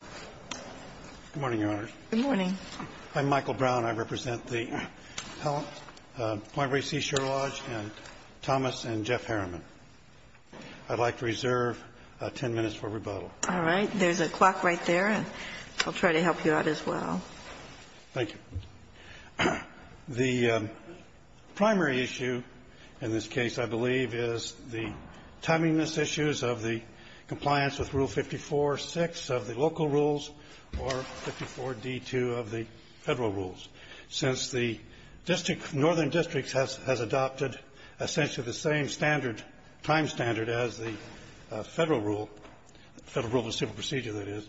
Good morning, Your Honors. Good morning. I'm Michael Brown. I represent the Point Reyes Seashore Lodge and Thomas and Jeff Harriman. I'd like to reserve 10 minutes for rebuttal. All right. There's a clock right there, and I'll try to help you out as well. Thank you. The primary issue in this case, I believe, is the timeliness issues of the compliance with Rule 54.6 of the local rules or 54.d.2 of the federal rules. Since the district, northern district, has adopted essentially the same standard, time standard, as the federal rule, federal rule of civil procedure, that is,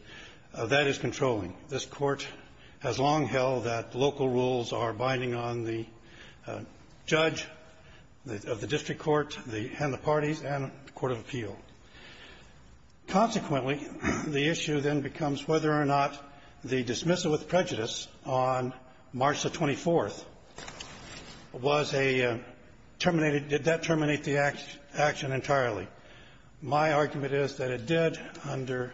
that is controlling. This Court has long held that local rules are binding on the judge of the district court and the parties and the court of appeal. Consequently, the issue then becomes whether or not the dismissal with prejudice on March the 24th was a terminated — did that terminate the action entirely. My argument is that it did under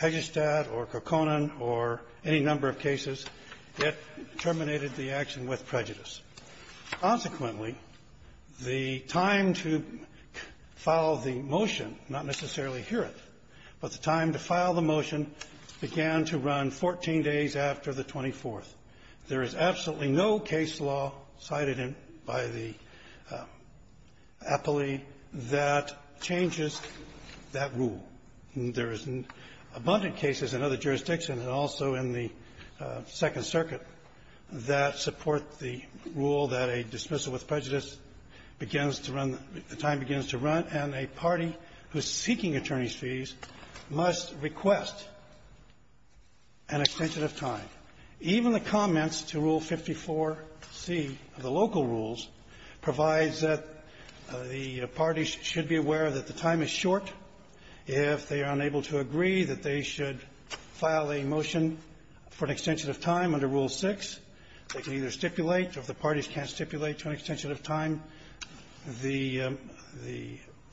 Hegestad or Kokkonen or any number of cases. It terminated the action with prejudice. Consequently, the time to file the motion, not necessarily Hereth, but the time to file the motion began to run 14 days after the 24th. There is absolutely no case law cited in — by the appellee that changes that rule. There is abundant cases in other jurisdictions and also in the Second Circuit that support the rule that a dismissal with prejudice begins to run — time begins to run, and a party who is seeking attorney's fees must request an extension of time. Even the comments to Rule 54c of the local rules provides that the parties should be aware that the time is short. If they are unable to agree that they should file a motion for an extension of time under Rule 6, they can either stipulate, or if the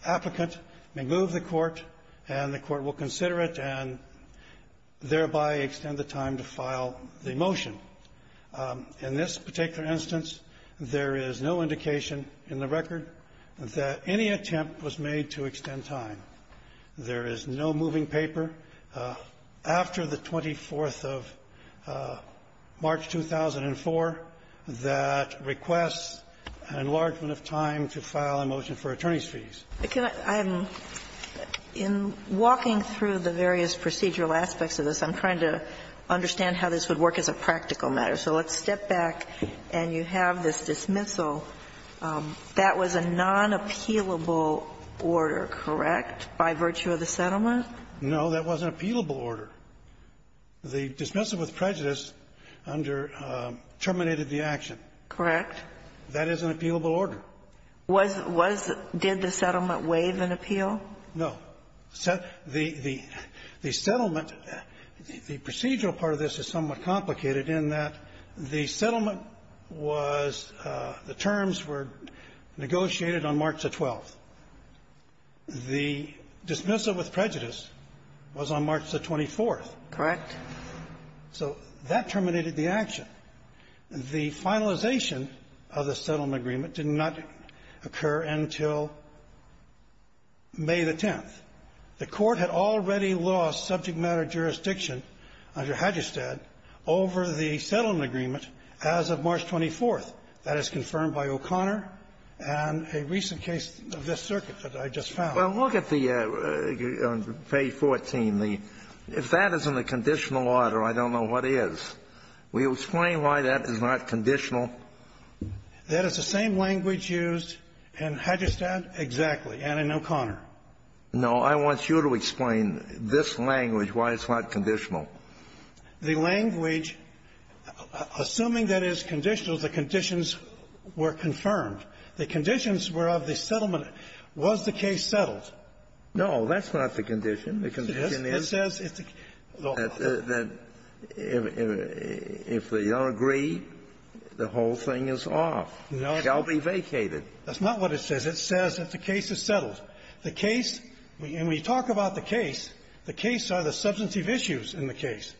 applicant may move the court, and the court will consider it and thereby extend the time to file the motion. In this particular instance, there is no indication in the record that any attempt was made to extend time. There is no moving paper after the 24th of March, 2004, that requests an enlargement of time to file a motion for attorney's fees. I'm walking through the various procedural aspects of this. I'm trying to understand how this would work as a practical matter. So let's step back, and you have this dismissal. That was a non-appealable order, correct, by virtue of the settlement? No, that was an appealable order. The dismissal with prejudice under — terminated the action. Correct. That is an appealable order. Was — was — did the settlement waive an appeal? No. The — the settlement — the procedural part of this is somewhat complicated in that the settlement was — the terms were negotiated on March the 12th. The dismissal with prejudice was on March the 24th. Correct. So that terminated the action. The finalization of the settlement agreement did not occur until May the 10th. The Court had already lost subject matter jurisdiction under Hadjistad over the settlement agreement as of March 24th. That is confirmed by O'Connor and a recent case of this circuit that I just found. Well, look at the — on page 14. The — if that isn't a conditional order, I don't know what is. Will you explain why that is not conditional? That is the same language used in Hadjistad, exactly, and in O'Connor. No. I want you to explain this language, why it's not conditional. The language, assuming that it's conditional, the conditions were confirmed. The conditions were of the settlement. Was the case settled? No. That's not the condition. The condition is — It says it's a — The — if they don't agree, the whole thing is off. No. It shall be vacated. That's not what it says. It says that the case is settled. The case — when we talk about the case, the case are the substantive issues in the case.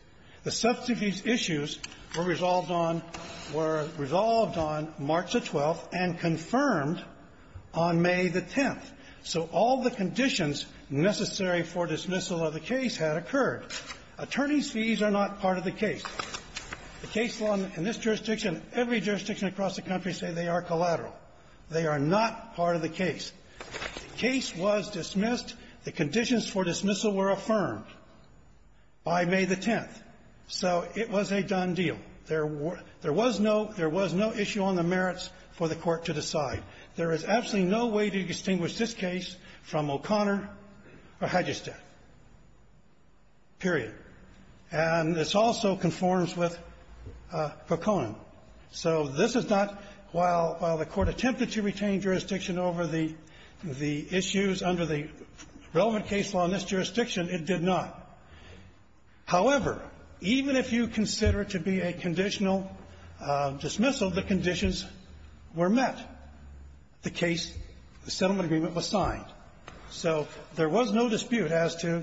The substantive issues were resolved on — were resolved on March the 12th and confirmed on May the 10th. So all the conditions necessary for dismissal of the case had occurred. Attorneys' fees are not part of the case. The case law in this jurisdiction, every jurisdiction across the country say they are collateral. They are not part of the case. The case was dismissed. The conditions for dismissal were affirmed by May the 10th. So it was a done deal. There was no — there was no issue on the merits for the Court to decide. There is absolutely no way to distinguish this case from O'Connor or Hydgestan, period. And this also conforms with Poconin. So this is not — while the Court attempted to retain jurisdiction over the issues under the relevant case law in this jurisdiction, it did not. However, even if you consider it to be a conditional dismissal, the conditions were met. The case — the settlement agreement was signed. So there was no dispute as to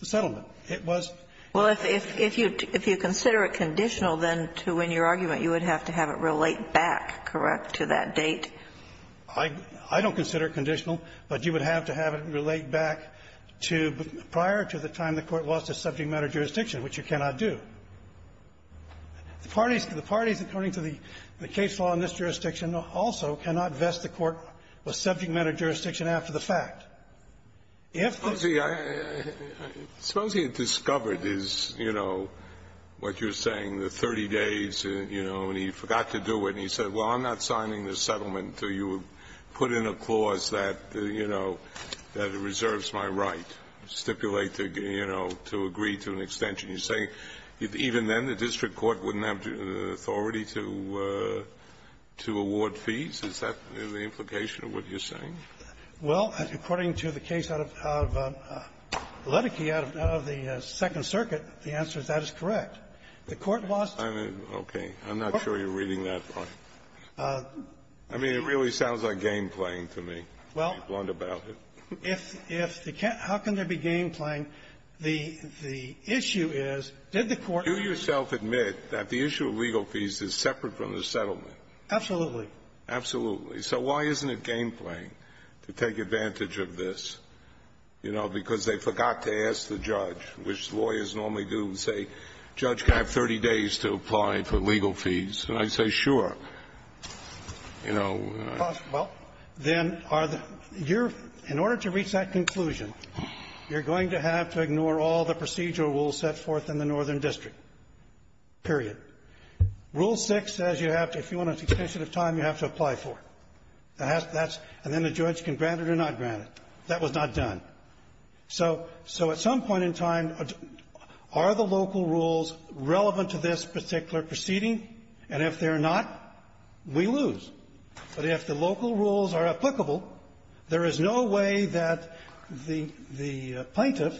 the settlement. It was — Well, if you consider it conditional, then, to win your argument, you would have to have it relate back, correct, to that date? I don't consider it conditional, but you would have to have it relate back to — prior to the time the Court lost a subject matter jurisdiction, which you cannot do. The parties — the parties, according to the case law in this jurisdiction, also cannot vest the Court with subject matter jurisdiction after the fact. If the — Suppose he — suppose he had discovered his, you know, what you're saying, the 30 days, you know, and he forgot to do it, and he said, well, I'm not signing the settlement until you put in a clause that, you know, that reserves my right to stipulate, you know, to agree to an extension. You're saying even then, the district court wouldn't have the authority to — to award fees? Is that the implication of what you're saying? Well, according to the case out of — out of Ledecky, out of the Second Circuit, the answer to that is correct. The Court lost — I mean, okay. I'm not sure you're reading that part. I mean, it really sounds like game-playing to me, to be blunt about it. Well, if the — how can there be game-playing? The — the issue is, did the Court — Do yourself admit that the issue of legal fees is separate from the settlement? Absolutely. Absolutely. So why isn't it game-playing to take advantage of this? You know, because they forgot to ask the judge, which lawyers normally do, and say, Judge, can I have 30 days to apply for legal fees? And I say, sure. You know. Well, then, are the — you're — in order to reach that conclusion, you're going to have to ignore all the procedural rules set forth in the Northern District, period. Rule 6 says you have to — if you want an extension of time, you have to apply for it. That's — and then the judge can grant it or not grant it. That was not done. So — so at some point in time, are the local rules relevant to this particular proceeding? And if they're not, we lose. But if the local rules are applicable, there is no way that the plaintiff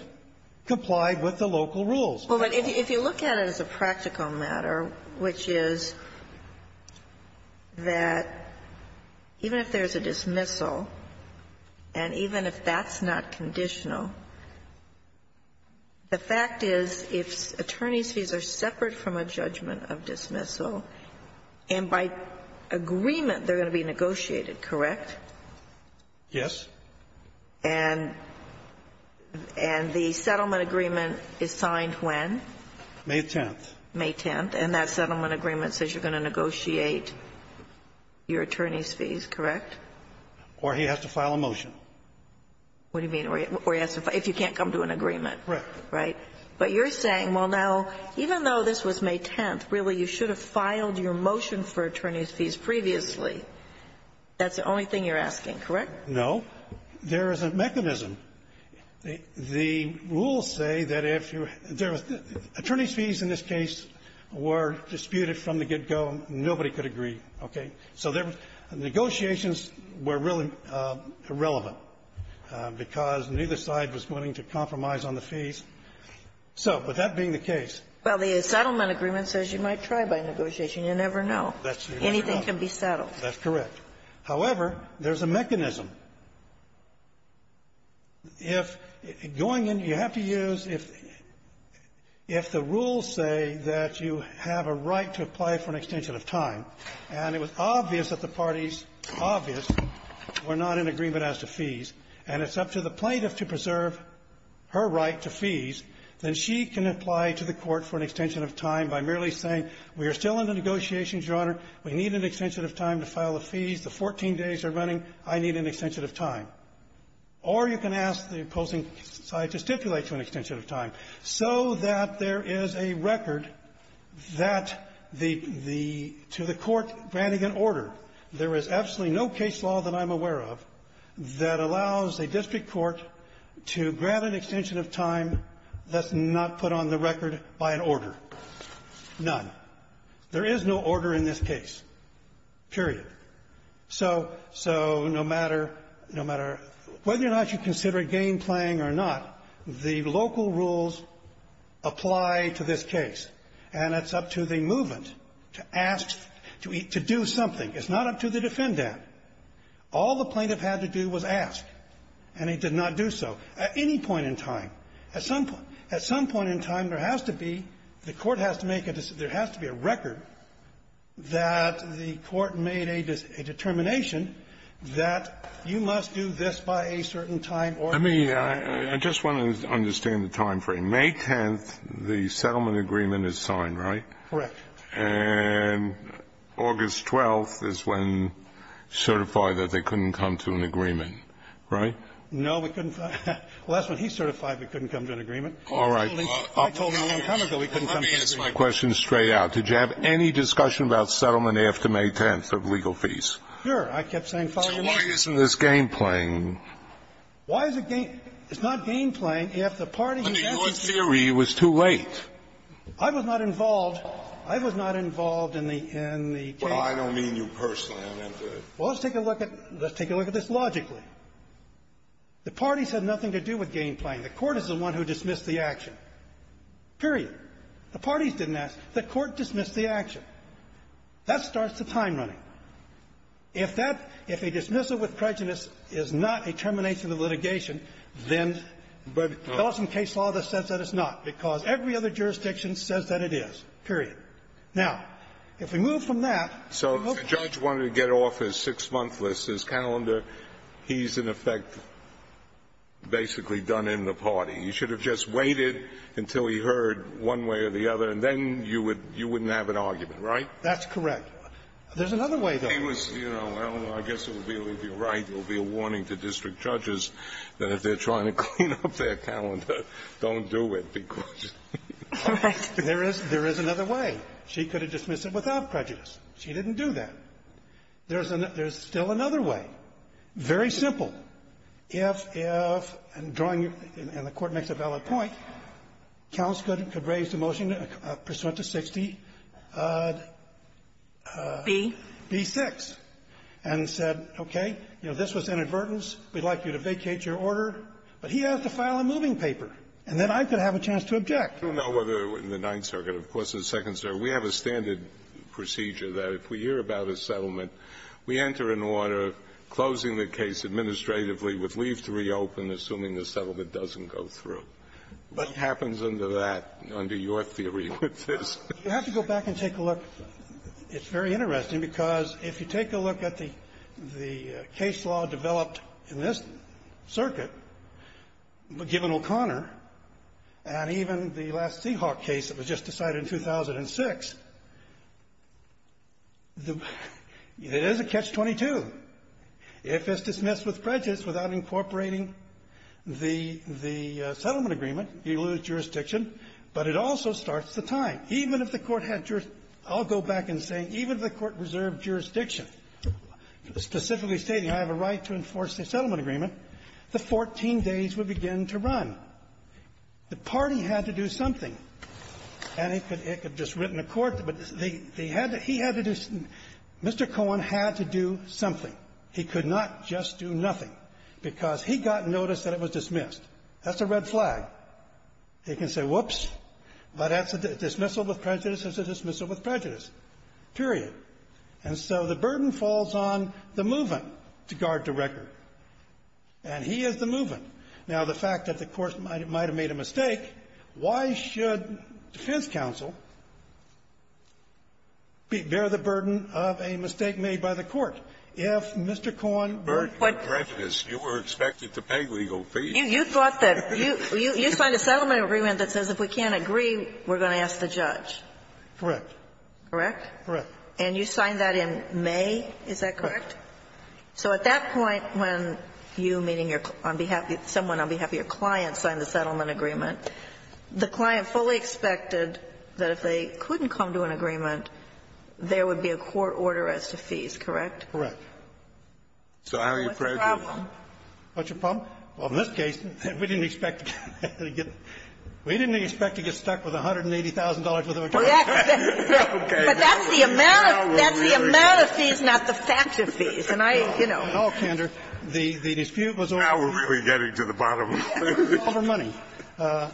complied with the local rules. Well, but if you look at it as a practical matter, which is that even if there's a dismissal, and even if that's not conditional, the fact is if attorneys' fees are separate from a judgment of dismissal, and by agreement they're going to be negotiated, correct? Yes. And — and the settlement agreement is signed when? May 10th. May 10th. And that settlement agreement says you're going to negotiate your attorney's fees, correct? Or he has to file a motion. What do you mean? Or he has to — if you can't come to an agreement. Correct. Right. But you're saying, well, now, even though this was May 10th, really, you should have filed your motion for attorney's fees previously. That's the only thing you're asking, correct? No. There is a mechanism. The rules say that if you're — there was — attorney's fees in this case were disputed from the get-go. Nobody could agree. Okay. So there was — negotiations were really irrelevant, because neither side was willing to compromise on the fees. So, with that being the case — Well, the settlement agreement says you might try by negotiation. You never know. That's true. Anything can be settled. That's correct. However, there's a mechanism. If — going in, you have to use — if the rules say that you have a right to apply for an extension of time, and it was obvious that the parties — obvious — were not in agreement as to fees, and it's up to the plaintiff to preserve her right to fees, then she can apply to the Court for an extension of time by merely saying, we are still in the negotiations, Your Honor. We need an extension of time to file the fees. The 14 days are running. I need an extension of time. Or you can ask the opposing side to stipulate to an extension of time, so that there is a record that the — the — to the Court granting an order. There is absolutely no case law that I'm aware of that allows a district court to grant an extension of time that's not put on the record by an order. None. There is no order in this case, period. So — so no matter — no matter whether or not you consider it game-playing or not, the local rules apply to this case. And it's up to the movement to ask — to do something. It's not up to the defendant. All the plaintiff had to do was ask, and he did not do so at any point in time. At some point — at some point in time, there has to be — the Court has to make a — there has to be a record that the Court made a determination that you must do this by a certain time order. I mean, I just want to understand the timeframe. May 10th, the settlement agreement is signed, right? Correct. And August 12th is when certified that they couldn't come to an agreement, right? No, we couldn't — well, that's when he certified we couldn't come to an agreement. All right. I told him a long time ago we couldn't come to an agreement. Let me ask my question straight out. Did you have any discussion about settlement after May 10th of legal fees? Sure. I kept saying, follow your logic. So why isn't this game-playing? Your theory was too late. I was not involved. I was not involved in the — in the case. Well, I don't mean you personally. I meant the — Well, let's take a look at — let's take a look at this logically. The parties had nothing to do with game-playing. The Court is the one who dismissed the action, period. The parties didn't ask. The Court dismissed the action. That starts the time running. If that — if a dismissal with prejudice is not a termination of litigation, then — but Ellison case law just says that it's not, because every other jurisdiction says that it is, period. Now, if we move from that — So if the judge wanted to get off his six-month list, his calendar, he's, in effect, basically done in the party. You should have just waited until he heard one way or the other, and then you would — you wouldn't have an argument, right? That's correct. There's another way, though. He was — you know, I don't know. I guess it would be right. There will be a warning to district judges that if they're trying to clean up their calendar, don't do it, because — Right. There is — there is another way. She could have dismissed it without prejudice. She didn't do that. There's another — there's still another way. Very simple. If — if — and drawing your — and the Court makes a valid point, counts could We'd like you to vacate your order. But he has to file a moving paper, and then I could have a chance to object. I don't know whether in the Ninth Circuit, of course, or the Second Circuit, we have a standard procedure that if we hear about a settlement, we enter an order closing the case administratively with leave to reopen, assuming the settlement doesn't go through. What happens under that, under your theory, with this? You have to go back and take a look. It's very interesting, because if you take a look at the — the case law developed in this circuit, given O'Connor, and even the last Seahawk case that was just decided in 2006, the — it is a catch-22. If it's dismissed with prejudice without incorporating the — the settlement agreement, you lose jurisdiction, but it also starts the time. Even if the Court had — I'll go back and say, even if the Court reserved jurisdiction, specifically stating I have a right to enforce the settlement agreement, the 14 days would begin to run. The party had to do something, and it could — it could have just written a court. But they — they had to — he had to do — Mr. Cohen had to do something. He could not just do nothing, because he got notice that it was dismissed. That's a red flag. He can say, whoops, but that's a dismissal with prejudice. It's a dismissal with prejudice, period. And so the burden falls on the move-in to guard the record. And he is the move-in. Now, the fact that the Court might have made a mistake, why should defense counsel bear the burden of a mistake made by the Court? If Mr. Cohen — Scalia, you were expected to pay legal fees. You thought that — you signed a settlement agreement that says if we can't agree, we're going to ask the judge. Correct. Correct? Correct. And you signed that in May, is that correct? Correct. So at that point, when you, meaning your — on behalf of — someone on behalf of your client signed the settlement agreement, the client fully expected that if they couldn't come to an agreement, there would be a court order as to fees, correct? Correct. So how are you prepared to do that? What's the problem? What's your problem? Well, in this case, we didn't expect to get — we didn't expect to get stuck with $180,000 worth of attorney fees. Exactly. Okay. But that's the amount of — that's the amount of fees, not the fact of fees. And I, you know. No, Kander. The dispute was over money. Now we're really getting to the bottom of it. It was over money. The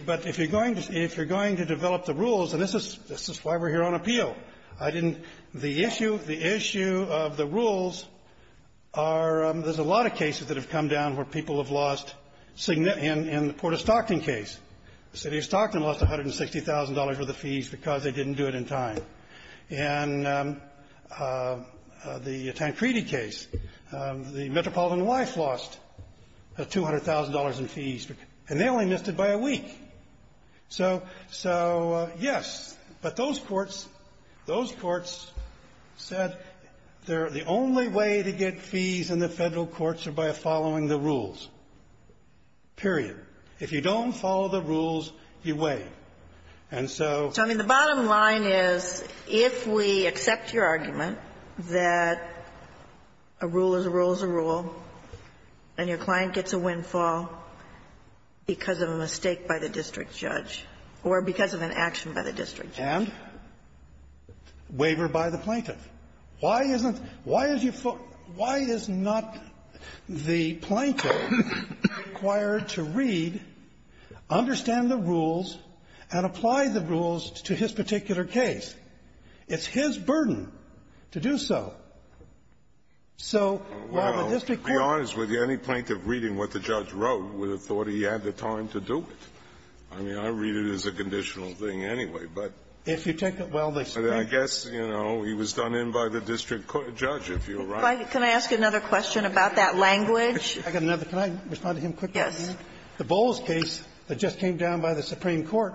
— but if you're going to — if you're going to develop the rules, and this is — this is why we're here on appeal. I didn't — the issue — the issue of the rules are — there's a lot of cases that have come down where people have lost — in the Port of Stockton case. The City of Stockton lost $160,000 worth of fees because they didn't do it in time. In the Tancredi case, the Metropolitan Wife lost $200,000 in fees, and they only missed it by a week. So — so, yes. But those courts — those courts said they're — the only way to get fees in the Federal Courts are by following the rules, period. If you don't follow the rules, you waive. And so — So, I mean, the bottom line is, if we accept your argument that a rule is a rule is a rule, and your client gets a windfall because of a mistake by the district judge, or because of an action by the district judge. And waiver by the plaintiff. Why isn't — why is your — why is not the plaintiff required to read, understand the rules, and apply the rules to his particular case? It's his burden to do so. So, why would this be — Well, to be honest with you, any plaintiff reading what the judge wrote would have thought he had the time to do it. I mean, I read it as a conditional thing anyway, but — If you take the — well, the — I guess, you know, he was done in by the district judge, if you're right. Can I ask you another question about that language? I got another. Can I respond to him quickly? Yes. The Bowles case that just came down by the Supreme Court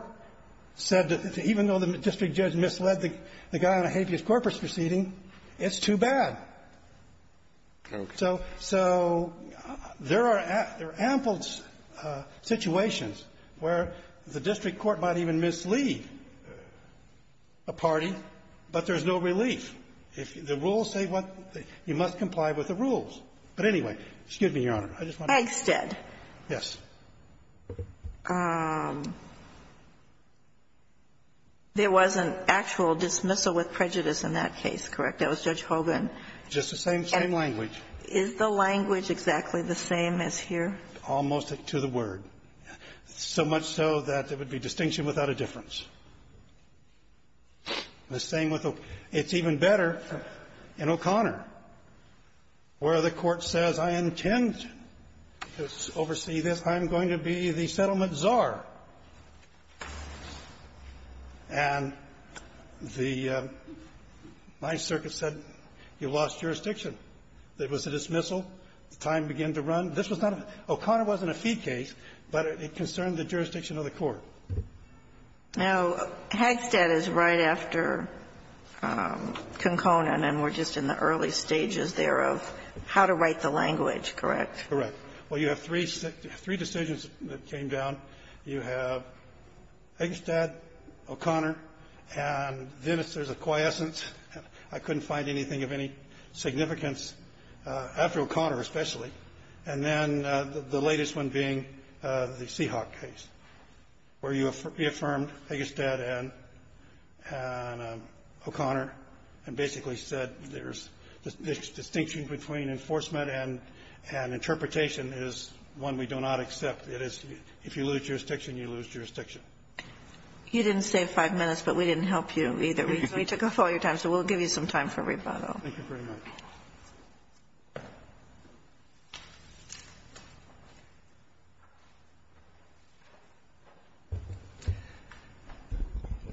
said that even though the district judge misled the guy on a habeas corpus proceeding, it's too bad. Okay. So — so there are — there are ample situations where the district court might even mislead a party, but there's no relief. If the rules say what — you must comply with the rules. But anyway, excuse me, Your Honor. I just want to — Eggstead. Yes. There was an actual dismissal with prejudice in that case, correct? That was Judge Hogan. Just the same — same language. Is the language exactly the same as here? Almost to the word. So much so that there would be distinction without a difference. The same with — it's even better in O'Connor, where the Court says, I intend to oversee this. I'm going to be the settlement czar. And the — my circuit said, you lost jurisdiction. There was a dismissal. The time began to run. This was not a — O'Connor wasn't a fee case, but it concerned the jurisdiction of the court. Now, Eggstead is right after Konkonen, and we're just in the early stages there of how to write the language, correct? Correct. Well, you have three — three decisions that came down. You have Eggstead, O'Connor, and then there's a quiescence. I couldn't find anything of any significance, after O'Connor especially. And then the latest one being the Seahawk case, where you reaffirmed Eggstead and O'Connor and basically said there's — the distinction between enforcement and interpretation is one we do not accept. It is if you lose jurisdiction, you lose jurisdiction. You didn't save five minutes, but we didn't help you either. We took up all your time, so we'll give you some time for rebuttal. Thank you very much.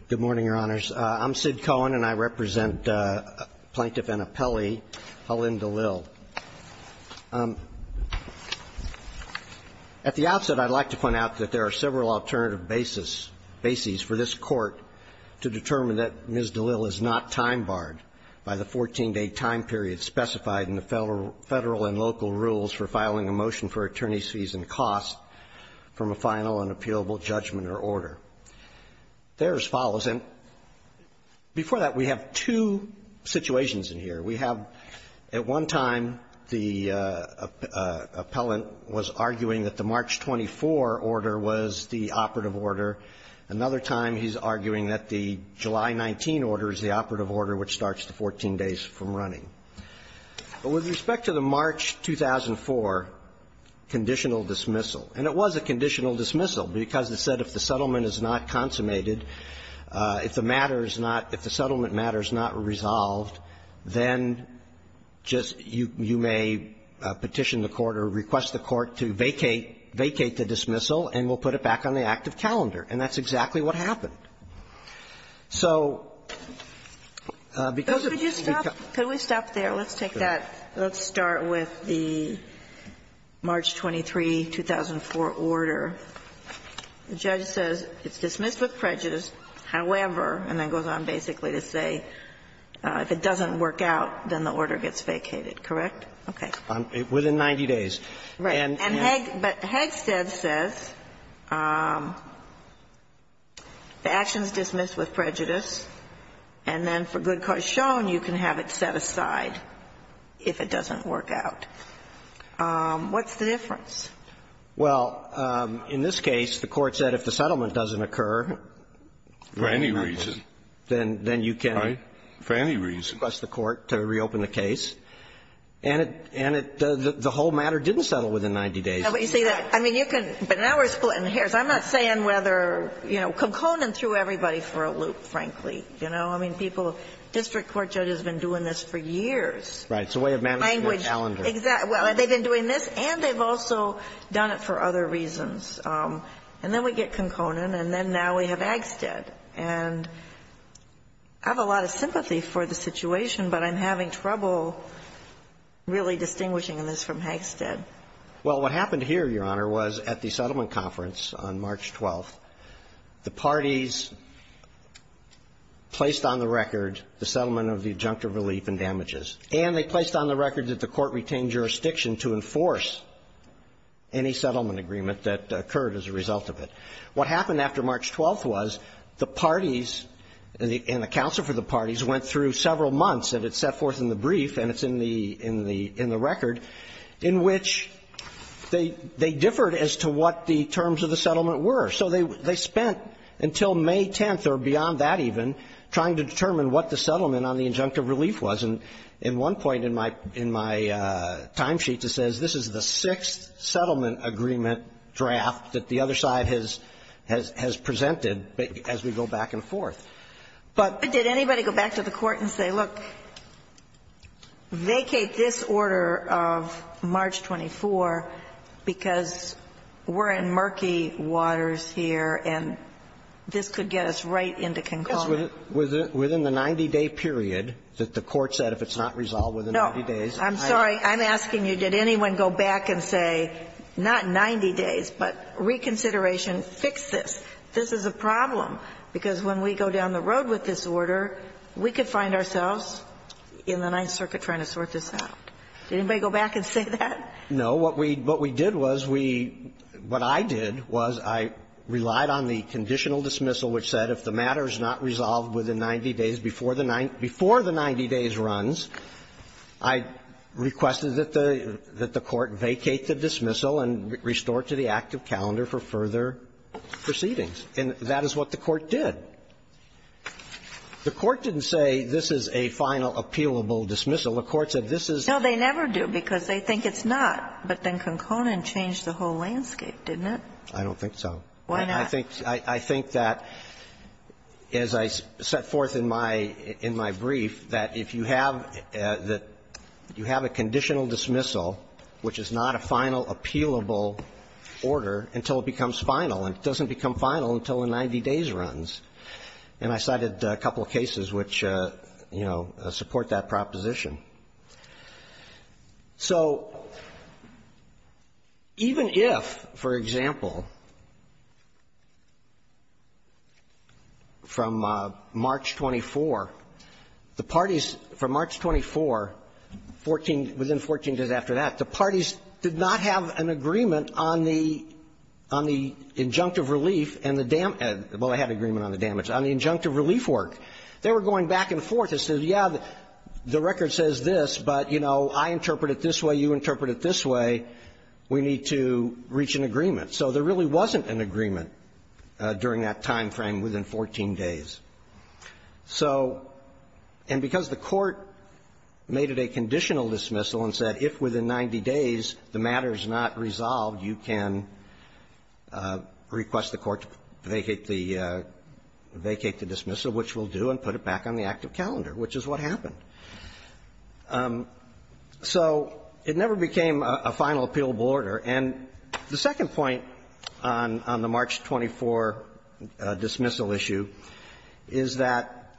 Good morning, Your Honors. I'm Sid Cohen, and I represent Plaintiff Anna Pelley, Helene DeLille. At the outset, I'd like to point out that there are several alternative bases for this Court to determine that Ms. DeLille is not time barred by the 14-day time period specified in the Federal and local rules for filing a motion for attorney's fees and costs from a final and appealable judgment or order. There's follows, and before that, we have two situations in here. We have, at one time, the appellant was arguing that the March 24 order was the operative order, another time he's arguing that the July 19 order is the operative order which starts the 14 days from running. With respect to the March 2004 conditional dismissal, and it was a conditional dismissal because it said if the settlement is not consummated, if the matter is not – if the settlement matter is not resolved, then just you may petition the Court or request the Court to vacate the dismissal, and we'll put it back on the active calendar, and that's exactly what happened. So because of the – Could you stop? Could we stop there? Let's take that. Let's start with the March 23, 2004 order. The judge says it's dismissed with prejudice, however, and then goes on basically to say if it doesn't work out, then the order gets vacated, correct? Okay. Within 90 days. Right. And Hegstead says the action is dismissed with prejudice, and then for good cause shown, you can have it set aside if it doesn't work out. What's the difference? Well, in this case, the Court said if the settlement doesn't occur, then you can request the Court to reopen the case. And it – and it – the whole matter didn't settle within 90 days. No, but you see that – I mean, you can – but now we're splitting hairs. I'm not saying whether – you know, Conconin threw everybody for a loop, frankly. You know, I mean, people – district court judges have been doing this for years. Right. It's a way of managing their calendar. Exactly. Well, they've been doing this, and they've also done it for other reasons. And then we get Conconin, and then now we have Hegstead. And I have a lot of sympathy for the situation, but I'm having trouble really distinguishing this from Hegstead. Well, what happened here, Your Honor, was at the settlement conference on March 12th, the parties placed on the record the settlement of the adjunctive relief and damages, and they placed on the record that the Court retained jurisdiction to enforce any settlement agreement that occurred as a result of it. What happened after March 12th was the parties and the counsel for the parties went through several months – and it's set forth in the brief, and it's in the record – in which they differed as to what the terms of the settlement were. So they spent until May 10th, or beyond that even, trying to determine what the settlement on the adjunctive relief was. And in one point in my timesheet, it says, this is the sixth settlement agreement draft that the other side has presented as we go back and forth. But did anybody go back to the Court and say, look, vacate this order of March 24th because we're in murky waters here and this could get us right into Conconin? Because within the 90-day period that the Court said, if it's not resolved within 90 days, I'm asking you, did anyone go back and say, not 90 days, but reconsideration, fix this. This is a problem, because when we go down the road with this order, we could find ourselves in the Ninth Circuit trying to sort this out. Did anybody go back and say that? No. What we did was we – what I did was I relied on the conditional dismissal, which said if the matter is not resolved within 90 days before the 90 days runs, I requested that the – that the Court vacate the dismissal and restore it to the active calendar for further proceedings. And that is what the Court did. The Court didn't say this is a final appealable dismissal. The Court said this is the final appealable dismissal. No, they never do, because they think it's not. But then Conconin changed the whole landscape, didn't it? I don't think so. Why not? I think – I think that, as I set forth in my – in my brief, that if you have the – you have a conditional dismissal, which is not a final appealable order until it becomes final, and it doesn't become final until a 90 days runs. And I cited a couple of cases which, you know, support that proposition. So even if, for example, from March 24, the parties from March 24, 14 – within 14 days after that, the parties did not have an agreement on the – on the injunctive relief and the – well, they had an agreement on the damage – on the injunctive relief work. They were going back and forth. They said, yeah, the record says this, but, you know, I interpret it this way, you interpret it this way. We need to reach an agreement. So there really wasn't an agreement during that time frame within 14 days. So – and because the Court made it a conditional dismissal and said if within 90 days the matter is not resolved, you can request the Court to vacate the – vacate the dismissal, which we'll do, and put it back on the active calendar, which is what happened. So it never became a final appealable order. And the second point on the March 24 dismissal issue is that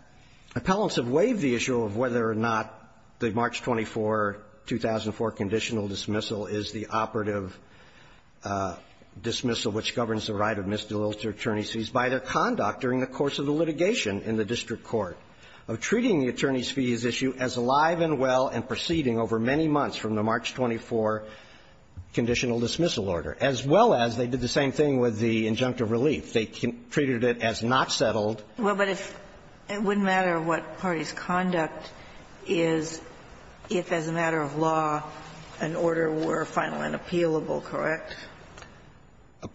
appellants have waived the issue of whether or not the March 24, 2004, conditional dismissal is the operative dismissal which governs the right of misdemeanors to attorneys by their conduct during the course of the litigation in the district court of treating the attorneys' fees issue as alive and well and proceeding over many months from the March 24 conditional dismissal order, as well as they did the same thing with the injunctive relief. They treated it as not settled. Well, but it wouldn't matter what party's conduct is if, as a matter of law, an order were final and appealable, correct?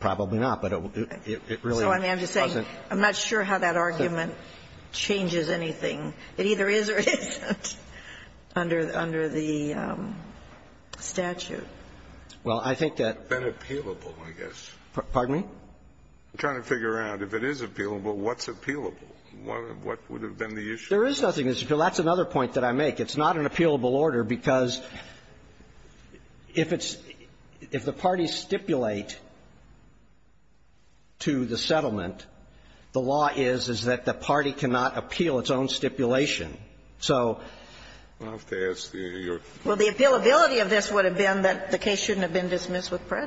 Probably not. But it really doesn't. So I'm just saying I'm not sure how that argument changes anything. It either is or isn't under the statute. Well, I think that the appealable, I guess. Pardon me? I'm trying to figure out if it is appealable, what's appealable? What would have been the issue? There is nothing that's appealable. That's another point that I make. It's not an appealable order because if it's – if the parties stipulate to the settlement, the law is, is that the party cannot appeal its own stipulation. So the appealability of this would have been that the case shouldn't have been dismissed No. Well,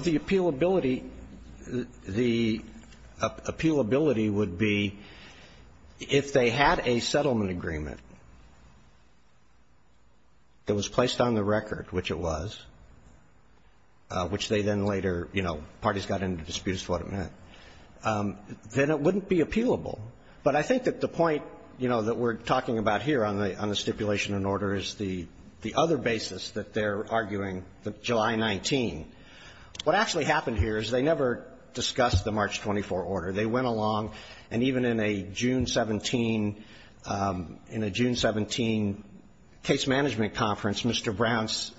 the appealability, the appealability would be if they had a settlement agreement that was placed on the record, which it was, which they then later, you know, parties got into disputes as to what it meant, then it wouldn't be appealable. But I think that the point, you know, that we're talking about here on the stipulation in order is the, the other basis that they're arguing, the July 19. What actually happened here is they never discussed the March 24 order. They went along, and even in a June 17, in a June 17 case management conference, Mr. Browns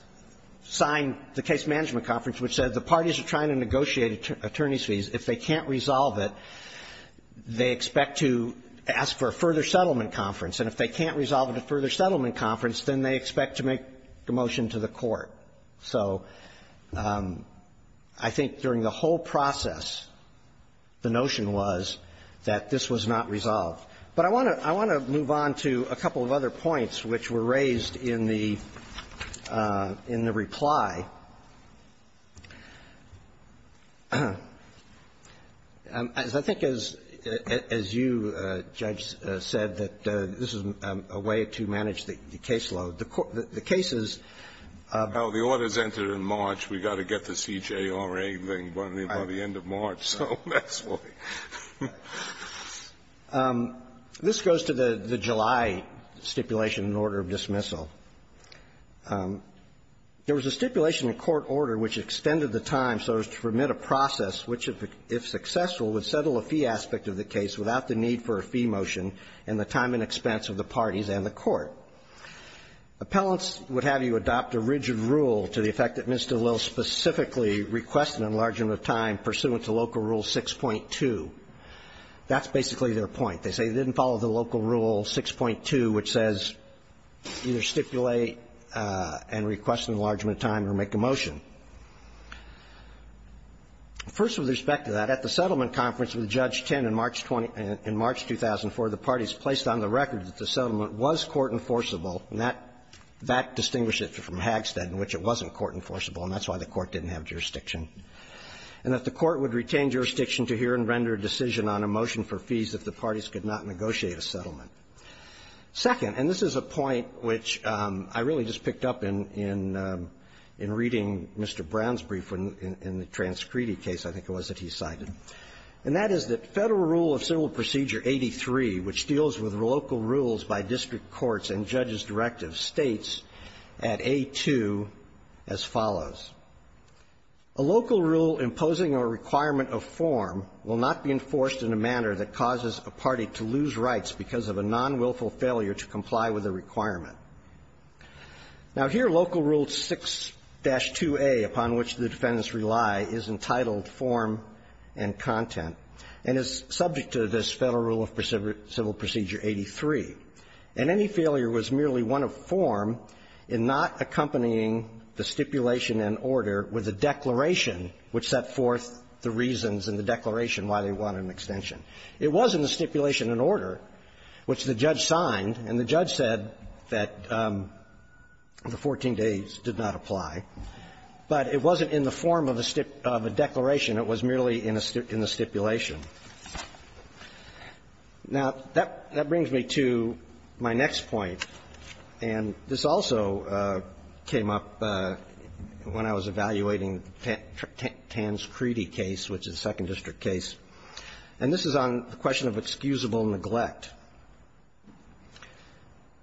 signed the case management conference, which said the parties are trying to negotiate attorney's fees. If they can't resolve it, they expect to ask for a further settlement conference. And if they can't resolve it at a further settlement conference, then they expect to make a motion to the court. So I think during the whole process, the notion was that this was not resolved. But I want to, I want to move on to a couple of other points which were raised in the, in the reply. As I think as, as you, Judge, said, that this is a way to manage the caseload. The cases of the orders entered in March, we've got to get the CJRA by the end of March. So that's why. This goes to the July stipulation in order of dismissal. There was a stipulation in court order which extended the time so as to permit a process which, if successful, would settle a fee aspect of the case without the need for a fee motion in the time and expense of the parties and the court. Appellants would have you adopt a rigid rule to the effect that Mr. Lill specifically requested an enlargement of time pursuant to Local Rule 6.2. That's basically their point. They say they didn't follow the Local Rule 6.2, which says either stipulate and request an enlargement of time or make a motion. First, with respect to that, at the settlement conference with Judge Tinn in March 20, in March 2004, the parties placed on the record that the settlement was court enforceable, and that, that distinguished it from Hagstead in which it wasn't court enforceable, and that's why the court didn't have jurisdiction, and that the court would retain jurisdiction to hear and render a decision on a motion for fees if the parties could not negotiate a settlement. Second, and this is a point which I really just picked up in, in reading Mr. Brown's brief in the TransCredi case, I think it was, that he cited, and that is that Federal Rule of Civil Procedure 83, which deals with local rules by district courts and judges' directives, states at A2 as follows. A local rule imposing a requirement of form will not be enforced in a manner that causes a party to lose rights because of a nonwilful failure to comply with a requirement. Now, here Local Rule 6-2A, upon which the defendants rely, is entitled form and content and is subject to this Federal Rule of Civil Procedure 83. And any failure was merely one of form in not accompanying the stipulation and order with a declaration which set forth the reasons in the declaration why they wanted an extension. It wasn't a stipulation and order, which the judge signed, and the judge said that the 14 days did not apply. But it wasn't in the form of a stipulation, of a declaration. It was merely in a stipulation. Now, that brings me to my next point. And this also came up when I was evaluating the Tanscredi case, which is a Second District case. And this is on the question of excusable neglect.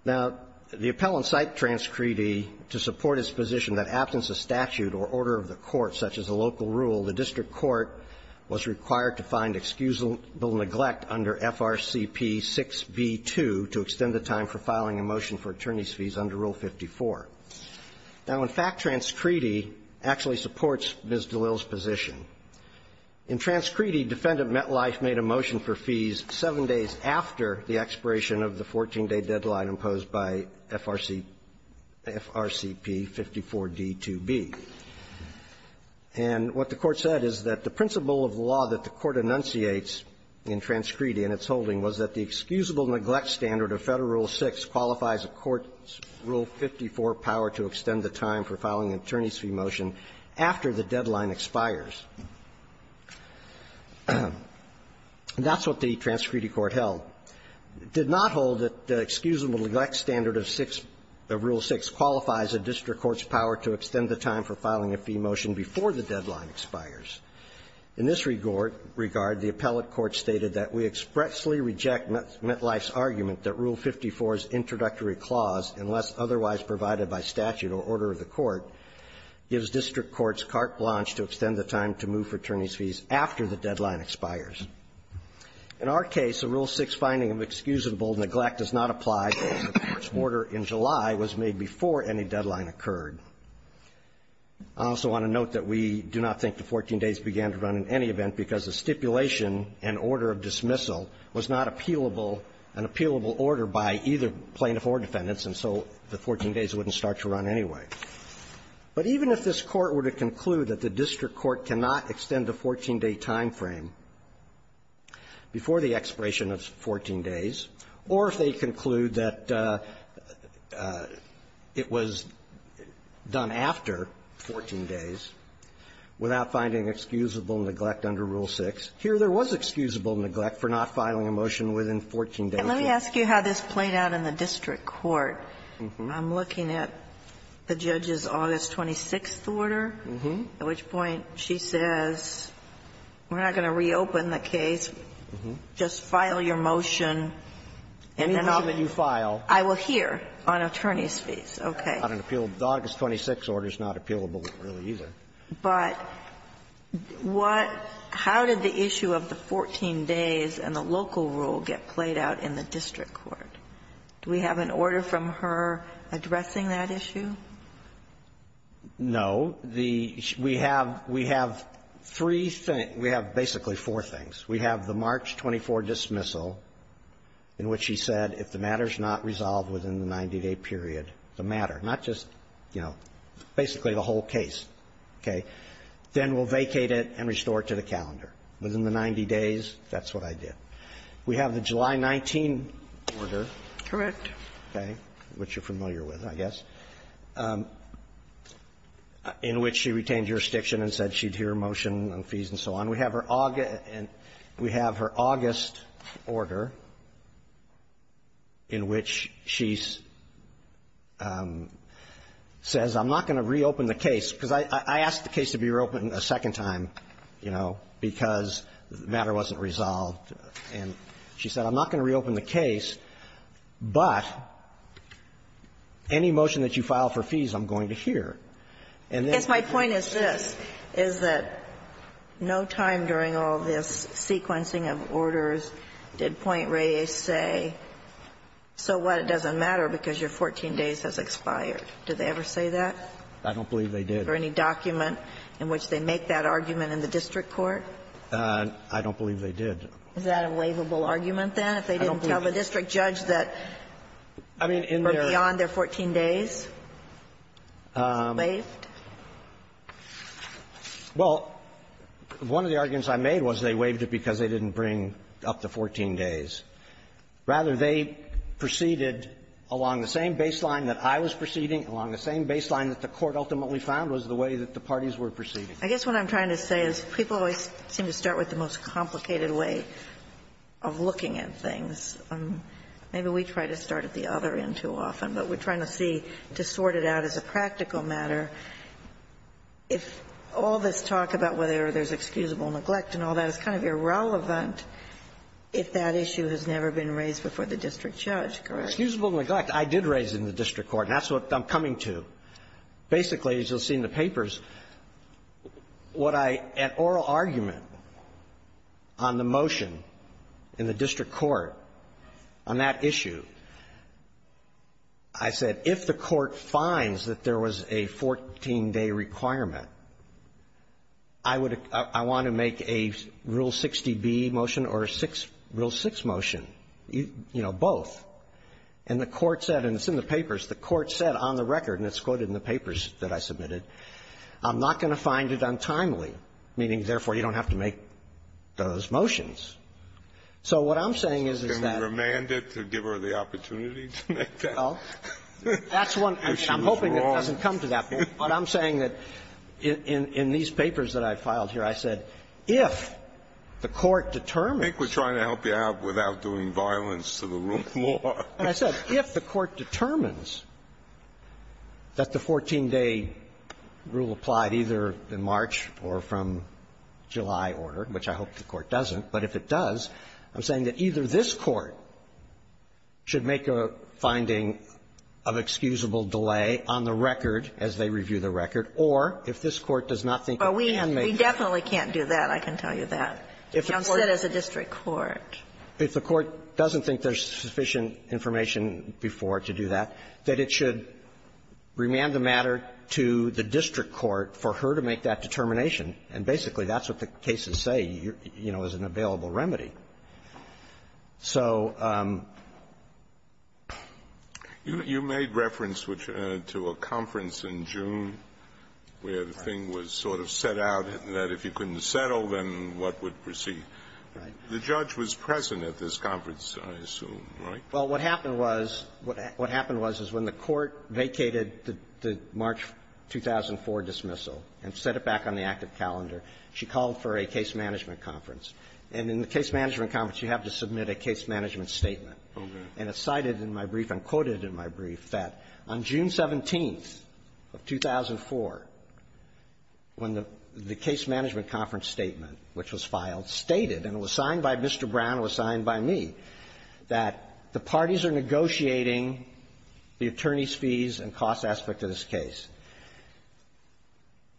Now, the appellant cited Tanscredi to support his position that, abstence of statute or order of the court, such as a local rule, the district court was required to find excusable neglect under FRCP 6b-2 to extend the time for filing a motion for attorney's fees under Rule 54. Now, in fact, Tanscredi actually supports Ms. DeLille's position. In Tanscredi, Defendant Metlife made a motion for fees 7 days after the expiration of the 14-day deadline imposed by FRCP 54d-2b. And what the Court said is that the principle of the law that the Court enunciates in Tanscredi and its holding was that the excusable neglect standard of Federal Rule 6 qualifies a court's Rule 54 power to extend the time for filing an attorney's fee motion after the deadline expires. That's what the Tanscredi court held. It did not hold that the excusable neglect standard of 6 of Rule 6 qualifies a district court's power to extend the time for filing a fee motion before the deadline expires. In this regard, the appellate court stated that we expressly reject Metlife's argument that Rule 54's introductory clause, unless otherwise provided by statute or order of the court, gives district courts carte blanche to extend the time to move for attorney's fees after the deadline expires. In our case, a Rule 6 finding of excusable neglect does not apply because the court's I also want to note that we do not think the 14 days began to run in any event because the stipulation and order of dismissal was not appealable, an appealable order by either plaintiff or defendants, and so the 14 days wouldn't start to run anyway. But even if this Court were to conclude that the district court cannot extend a 14-day time frame before the expiration of 14 days, or if they conclude that if the district court cannot extend a 14-day time frame, it was done after 14 days without finding excusable neglect under Rule 6. Here, there was excusable neglect for not filing a motion within 14 days. And let me ask you how this played out in the district court. I'm looking at the judge's August 26th order, at which point she says, we're not going to reopen the case, just file your motion, and then I will hear on attorney's days. Okay. Not an appealable order. The August 26th order is not appealable, really, either. But what how did the issue of the 14 days and the local rule get played out in the district court? Do we have an order from her addressing that issue? No. The we have we have three things, we have basically four things. We have the March 24 dismissal, in which she said if the matter is not resolved within the 90-day period, the matter, not just, you know, basically the whole case, okay, then we'll vacate it and restore it to the calendar. Within the 90 days, that's what I did. We have the July 19 order. Correct. Okay. Which you're familiar with, I guess, in which she retained jurisdiction and said she'd hear a motion on fees and so on. And we have her August and we have her August order, in which she says, I'm not going to reopen the case, because I asked the case to be reopened a second time, you know, because the matter wasn't resolved. And she said, I'm not going to reopen the case, but any motion that you file for fees, I'm going to hear. And then you can say that. Yes. My point is this, is that no time during all this sequencing of orders did Point Reyes say, so what, it doesn't matter because your 14 days has expired. Did they ever say that? I don't believe they did. Or any document in which they make that argument in the district court? I don't believe they did. Is that a laveable argument, then, if they didn't tell the district judge that or beyond their 14 days? Laved? Well, one of the arguments I made was they laved it because they didn't bring up to 14 days. Rather, they proceeded along the same baseline that I was proceeding, along the same baseline that the Court ultimately found was the way that the parties were proceeding. I guess what I'm trying to say is people always seem to start with the most complicated way of looking at things. Maybe we try to start at the other end too often, but we're trying to see, to sort it out as a practical matter, if all this talk about whether there's excusable neglect and all that is kind of irrelevant if that issue has never been raised before the district judge, correct? Excusable neglect, I did raise in the district court, and that's what I'm coming to. Basically, as you'll see in the papers, what I at oral argument on the motion in the record, on that issue, I said if the Court finds that there was a 14-day requirement, I would — I want to make a Rule 60B motion or a 6 — Rule 6 motion, you know, both. And the Court said, and it's in the papers, the Court said on the record, and it's quoted in the papers that I submitted, I'm not going to find it untimely, meaning therefore, you don't have to make those motions. So what I'm saying is, is that — Can we remand it to give her the opportunity to make that? Well, that's one — I mean, I'm hoping it doesn't come to that point. But I'm saying that in — in these papers that I filed here, I said if the Court determines — I think we're trying to help you out without doing violence to the rule more. I said if the Court determines that the 14-day rule applied either in March or from July order, which I hope the Court doesn't, but if it does, I'm saying that either this Court should make a finding of excusable delay on the record as they review the record, or if this Court does not think it can make it. Well, we definitely can't do that, I can tell you that. If the Court — Young said it's a district court. If the Court doesn't think there's sufficient information before to do that, that it should remand the matter to the district court for her to make that determination And basically, that's what the cases say, you know, is an available remedy. So — You made reference to a conference in June where the thing was sort of set out that if you couldn't settle, then what would proceed. Right. The judge was present at this conference, I assume, right? Well, what happened was — what happened was, is when the Court vacated the March 2004 dismissal and set it back on the active calendar, she called for a case management conference. And in the case management conference, you have to submit a case management statement. And it's cited in my brief, and quoted in my brief, that on June 17th of 2004, when the case management conference statement, which was filed, stated, and it was signed by Mr. Brown, it was signed by me, that the parties are negotiating the attorney's fees, the cost aspect of this case.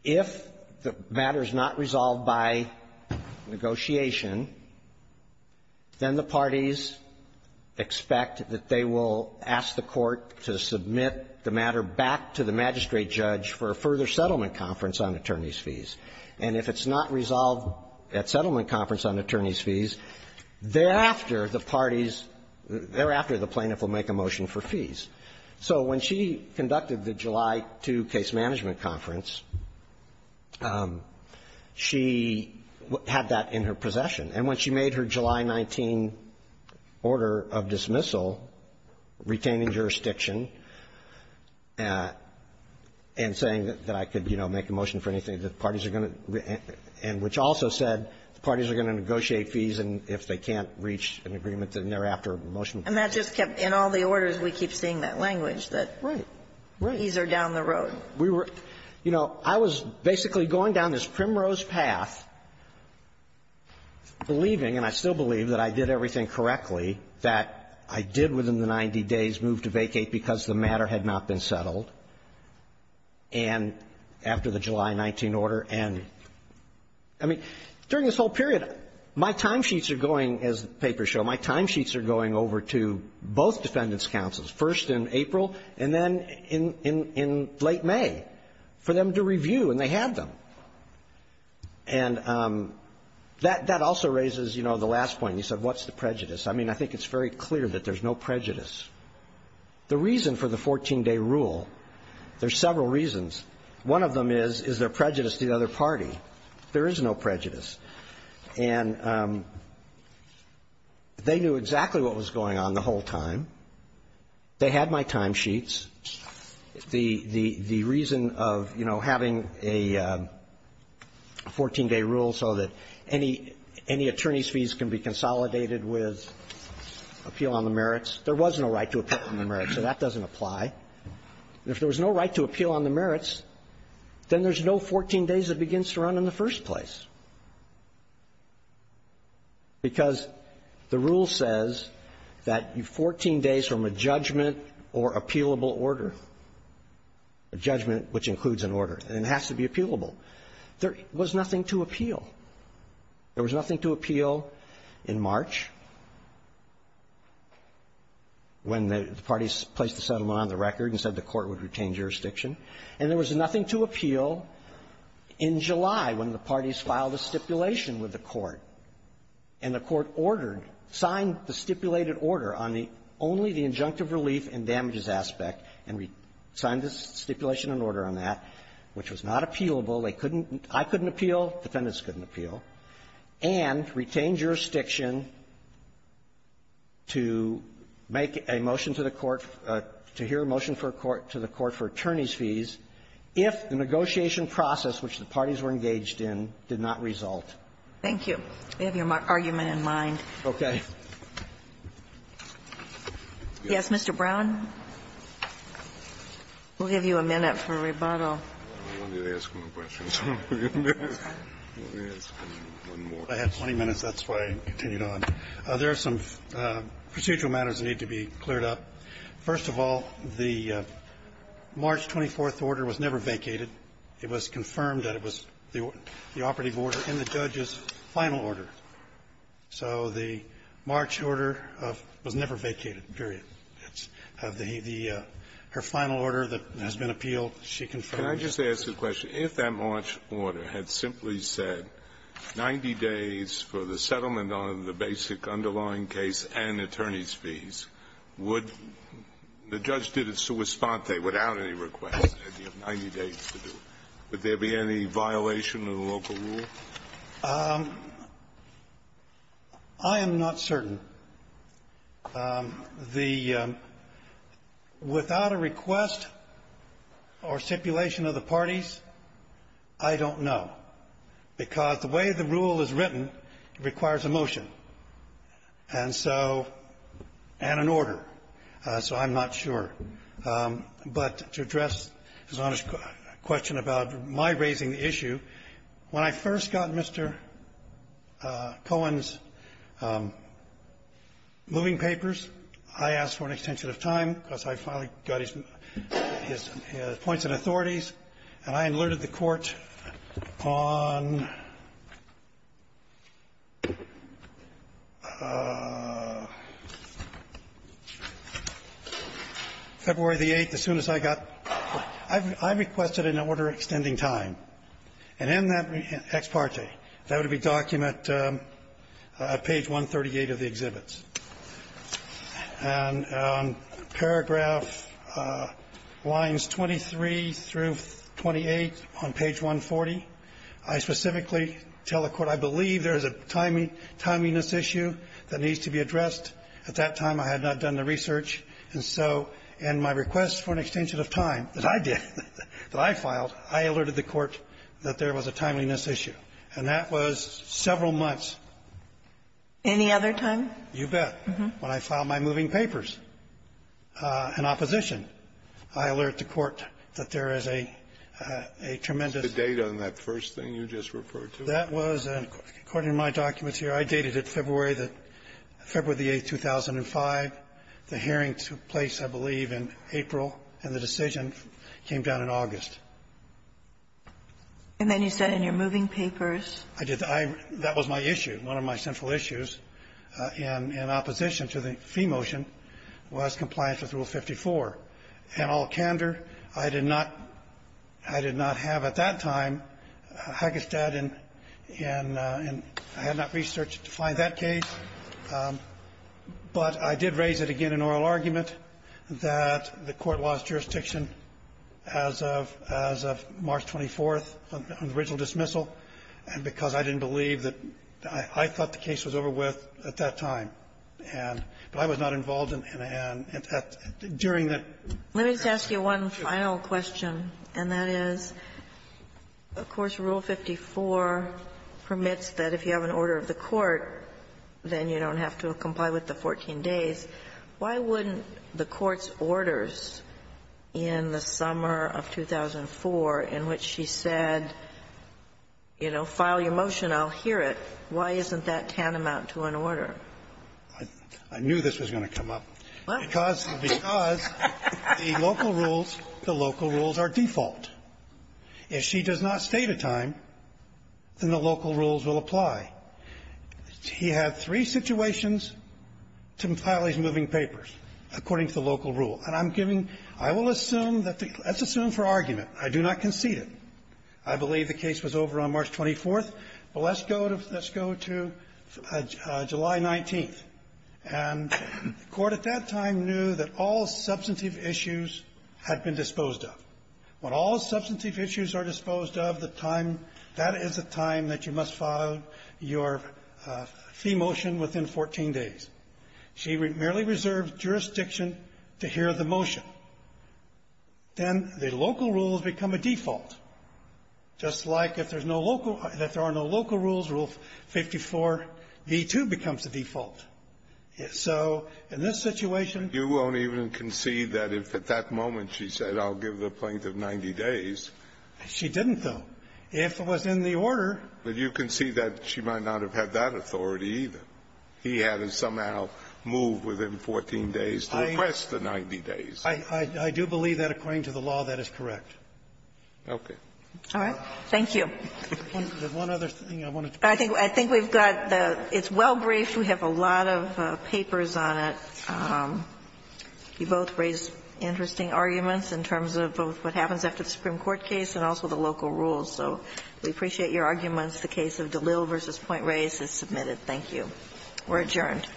If the matter is not resolved by negotiation, then the parties expect that they will ask the Court to submit the matter back to the magistrate judge for a further settlement conference on attorney's fees. And if it's not resolved at settlement conference on attorney's fees, thereafter the parties — thereafter the plaintiff will make a motion for fees. So when she conducted the July 2 case management conference, she had that in her possession. And when she made her July 19 order of dismissal, retaining jurisdiction and saying that I could, you know, make a motion for anything, the parties are going to — and which also said the parties are going to negotiate fees if they can't reach an agreement thereafter. And that just kept — in all the orders, we keep seeing that language, that fees are down the road. We were — you know, I was basically going down this primrose path, believing — and I still believe — that I did everything correctly, that I did within the 90 days move to vacate because the matter had not been settled, and after the July 19 order, and — I mean, during this whole period, my timesheets are going, as the papers show, my timesheets are going over to both defendants' counsels, first in April and then in — in late May, for them to review, and they had them. And that — that also raises, you know, the last point. You said, what's the prejudice? I mean, I think it's very clear that there's no prejudice. The reason for the 14-day rule — there's several reasons. One of them is, is there prejudice to the other party. There is no prejudice. And they knew exactly what was going on the whole time. They had my timesheets. The — the reason of, you know, having a 14-day rule so that any — any attorney's fees can be consolidated with appeal on the merits, there was no right to appeal on the merits, so that doesn't apply. If there was no right to appeal on the merits, then there's no 14 days that begins to run in the first place, because the rule says that you — 14 days from a judgment or appealable order, a judgment which includes an order, and it has to be appealable. There was nothing to appeal. There was nothing to appeal in March, when the parties placed the settlement on the record and said the Court would retain jurisdiction. And there was nothing to appeal in July, when the parties filed a stipulation with the Court, and the Court ordered — signed the stipulated order on the — only the injunctive relief and damages aspect, and signed the stipulation and order on that, which was not appealable. They couldn't — I couldn't appeal. Defendants couldn't appeal. And retained jurisdiction to make a motion to the Court — to hear a motion for a court — to the Court for attorneys' fees, if the negotiation process which the parties were engaged in did not result. Thank you. We have your argument in mind. Okay. Yes, Mr. Brown, we'll give you a minute for rebuttal. I wanted to ask one question, so I'm going to ask one more. I had 20 minutes. That's why I continued on. There are some procedural matters that need to be cleared up. First of all, the March 24th order was never vacated. It was confirmed that it was the operative order in the judge's final order. So the March order of — was never vacated, period. It's the — her final order that has been appealed, she confirmed. Can I just ask a question? If that March order had simply said 90 days for the settlement on the basic underlying case and attorneys' fees, would — the judge did it sua sponte, without any request. He had 90 days to do it. Would there be any violation of the local rule? I am not certain. The — without a request or stipulation of the parties, I don't know, because the way the rule is written requires a motion and so — and an order. So I'm not sure. But to address His Honor's question about my raising the issue, when I first got Mr. Cohen's moving papers, I asked for an extension of time because I finally got his — his points and authorities, and I alerted the Court on February the 8th, as soon as I got — I requested an order extending time. And in that ex parte, that would be document at page 138 of the exhibits. And paragraph lines 23 through 28 on page 140, I specifically tell the Court I believe there is a timeliness issue that needs to be addressed. At that time, I had not done the research, and so in my request for an extension of time that I did, that I filed, I alerted the Court that there was a timeliness issue. And that was several months. Any other time? You bet. When I filed my moving papers in opposition, I alerted the Court that there is a tremendous The date on that first thing you just referred to. That was, according to my documents here, I dated it February the 8th, 2005. The hearing took place, I believe, in April, and the decision came down in August. And then you said in your moving papers? I did. That was my issue. One of my central issues in opposition to the fee motion was compliance with Rule 54. And all candor, I did not have at that time a haggis dad, and I had not researched to find that case. But I did raise it again in oral argument that the Court lost jurisdiction as of March 24th on the original dismissal, and because I didn't believe that the case was over with at that time, and I was not involved in that. Let me ask you one final question, and that is, of course, Rule 54 permits that if you have an order of the Court, then you don't have to comply with the 14 days. Why wouldn't the Court's orders in the summer of 2004, in which she said, you know, file your motion, I'll hear it, why isn't that tantamount to an order? I knew this was going to come up. Because the local rules, the local rules are default. If she does not state a time, then the local rules will apply. He had three situations to file his moving papers, according to the local rule. And I'm giving you – I will assume that the – let's assume for argument. I do not concede it. I believe the case was over on March 24th, but let's go to – let's go to July 19th. And the Court at that time knew that all substantive issues had been disposed of. When all substantive issues are disposed of, the time – that is a time that you must file your fee motion within 14 days. She merely reserved jurisdiction to hear the motion. Then the local rules become a default. Just like if there's no local – if there are no local rules, Rule 54b2 becomes a default. So in this situation – You won't even concede that if at that moment she said, I'll give the plaintiff 90 days. She didn't, though. If it was in the order – But you concede that she might not have had that authority, either. He hadn't somehow moved within 14 days to request the 90 days. I do believe that, according to the law, that is correct. Okay. All right. Thank you. There's one other thing I want to talk about. I think we've got the – it's well briefed. We have a lot of papers on it. You both raised interesting arguments in terms of both what happens after the Supreme Court case and also the local rules. So we appreciate your arguments. The case of DeLille v. Point Reyes is submitted. Thank you. We're adjourned.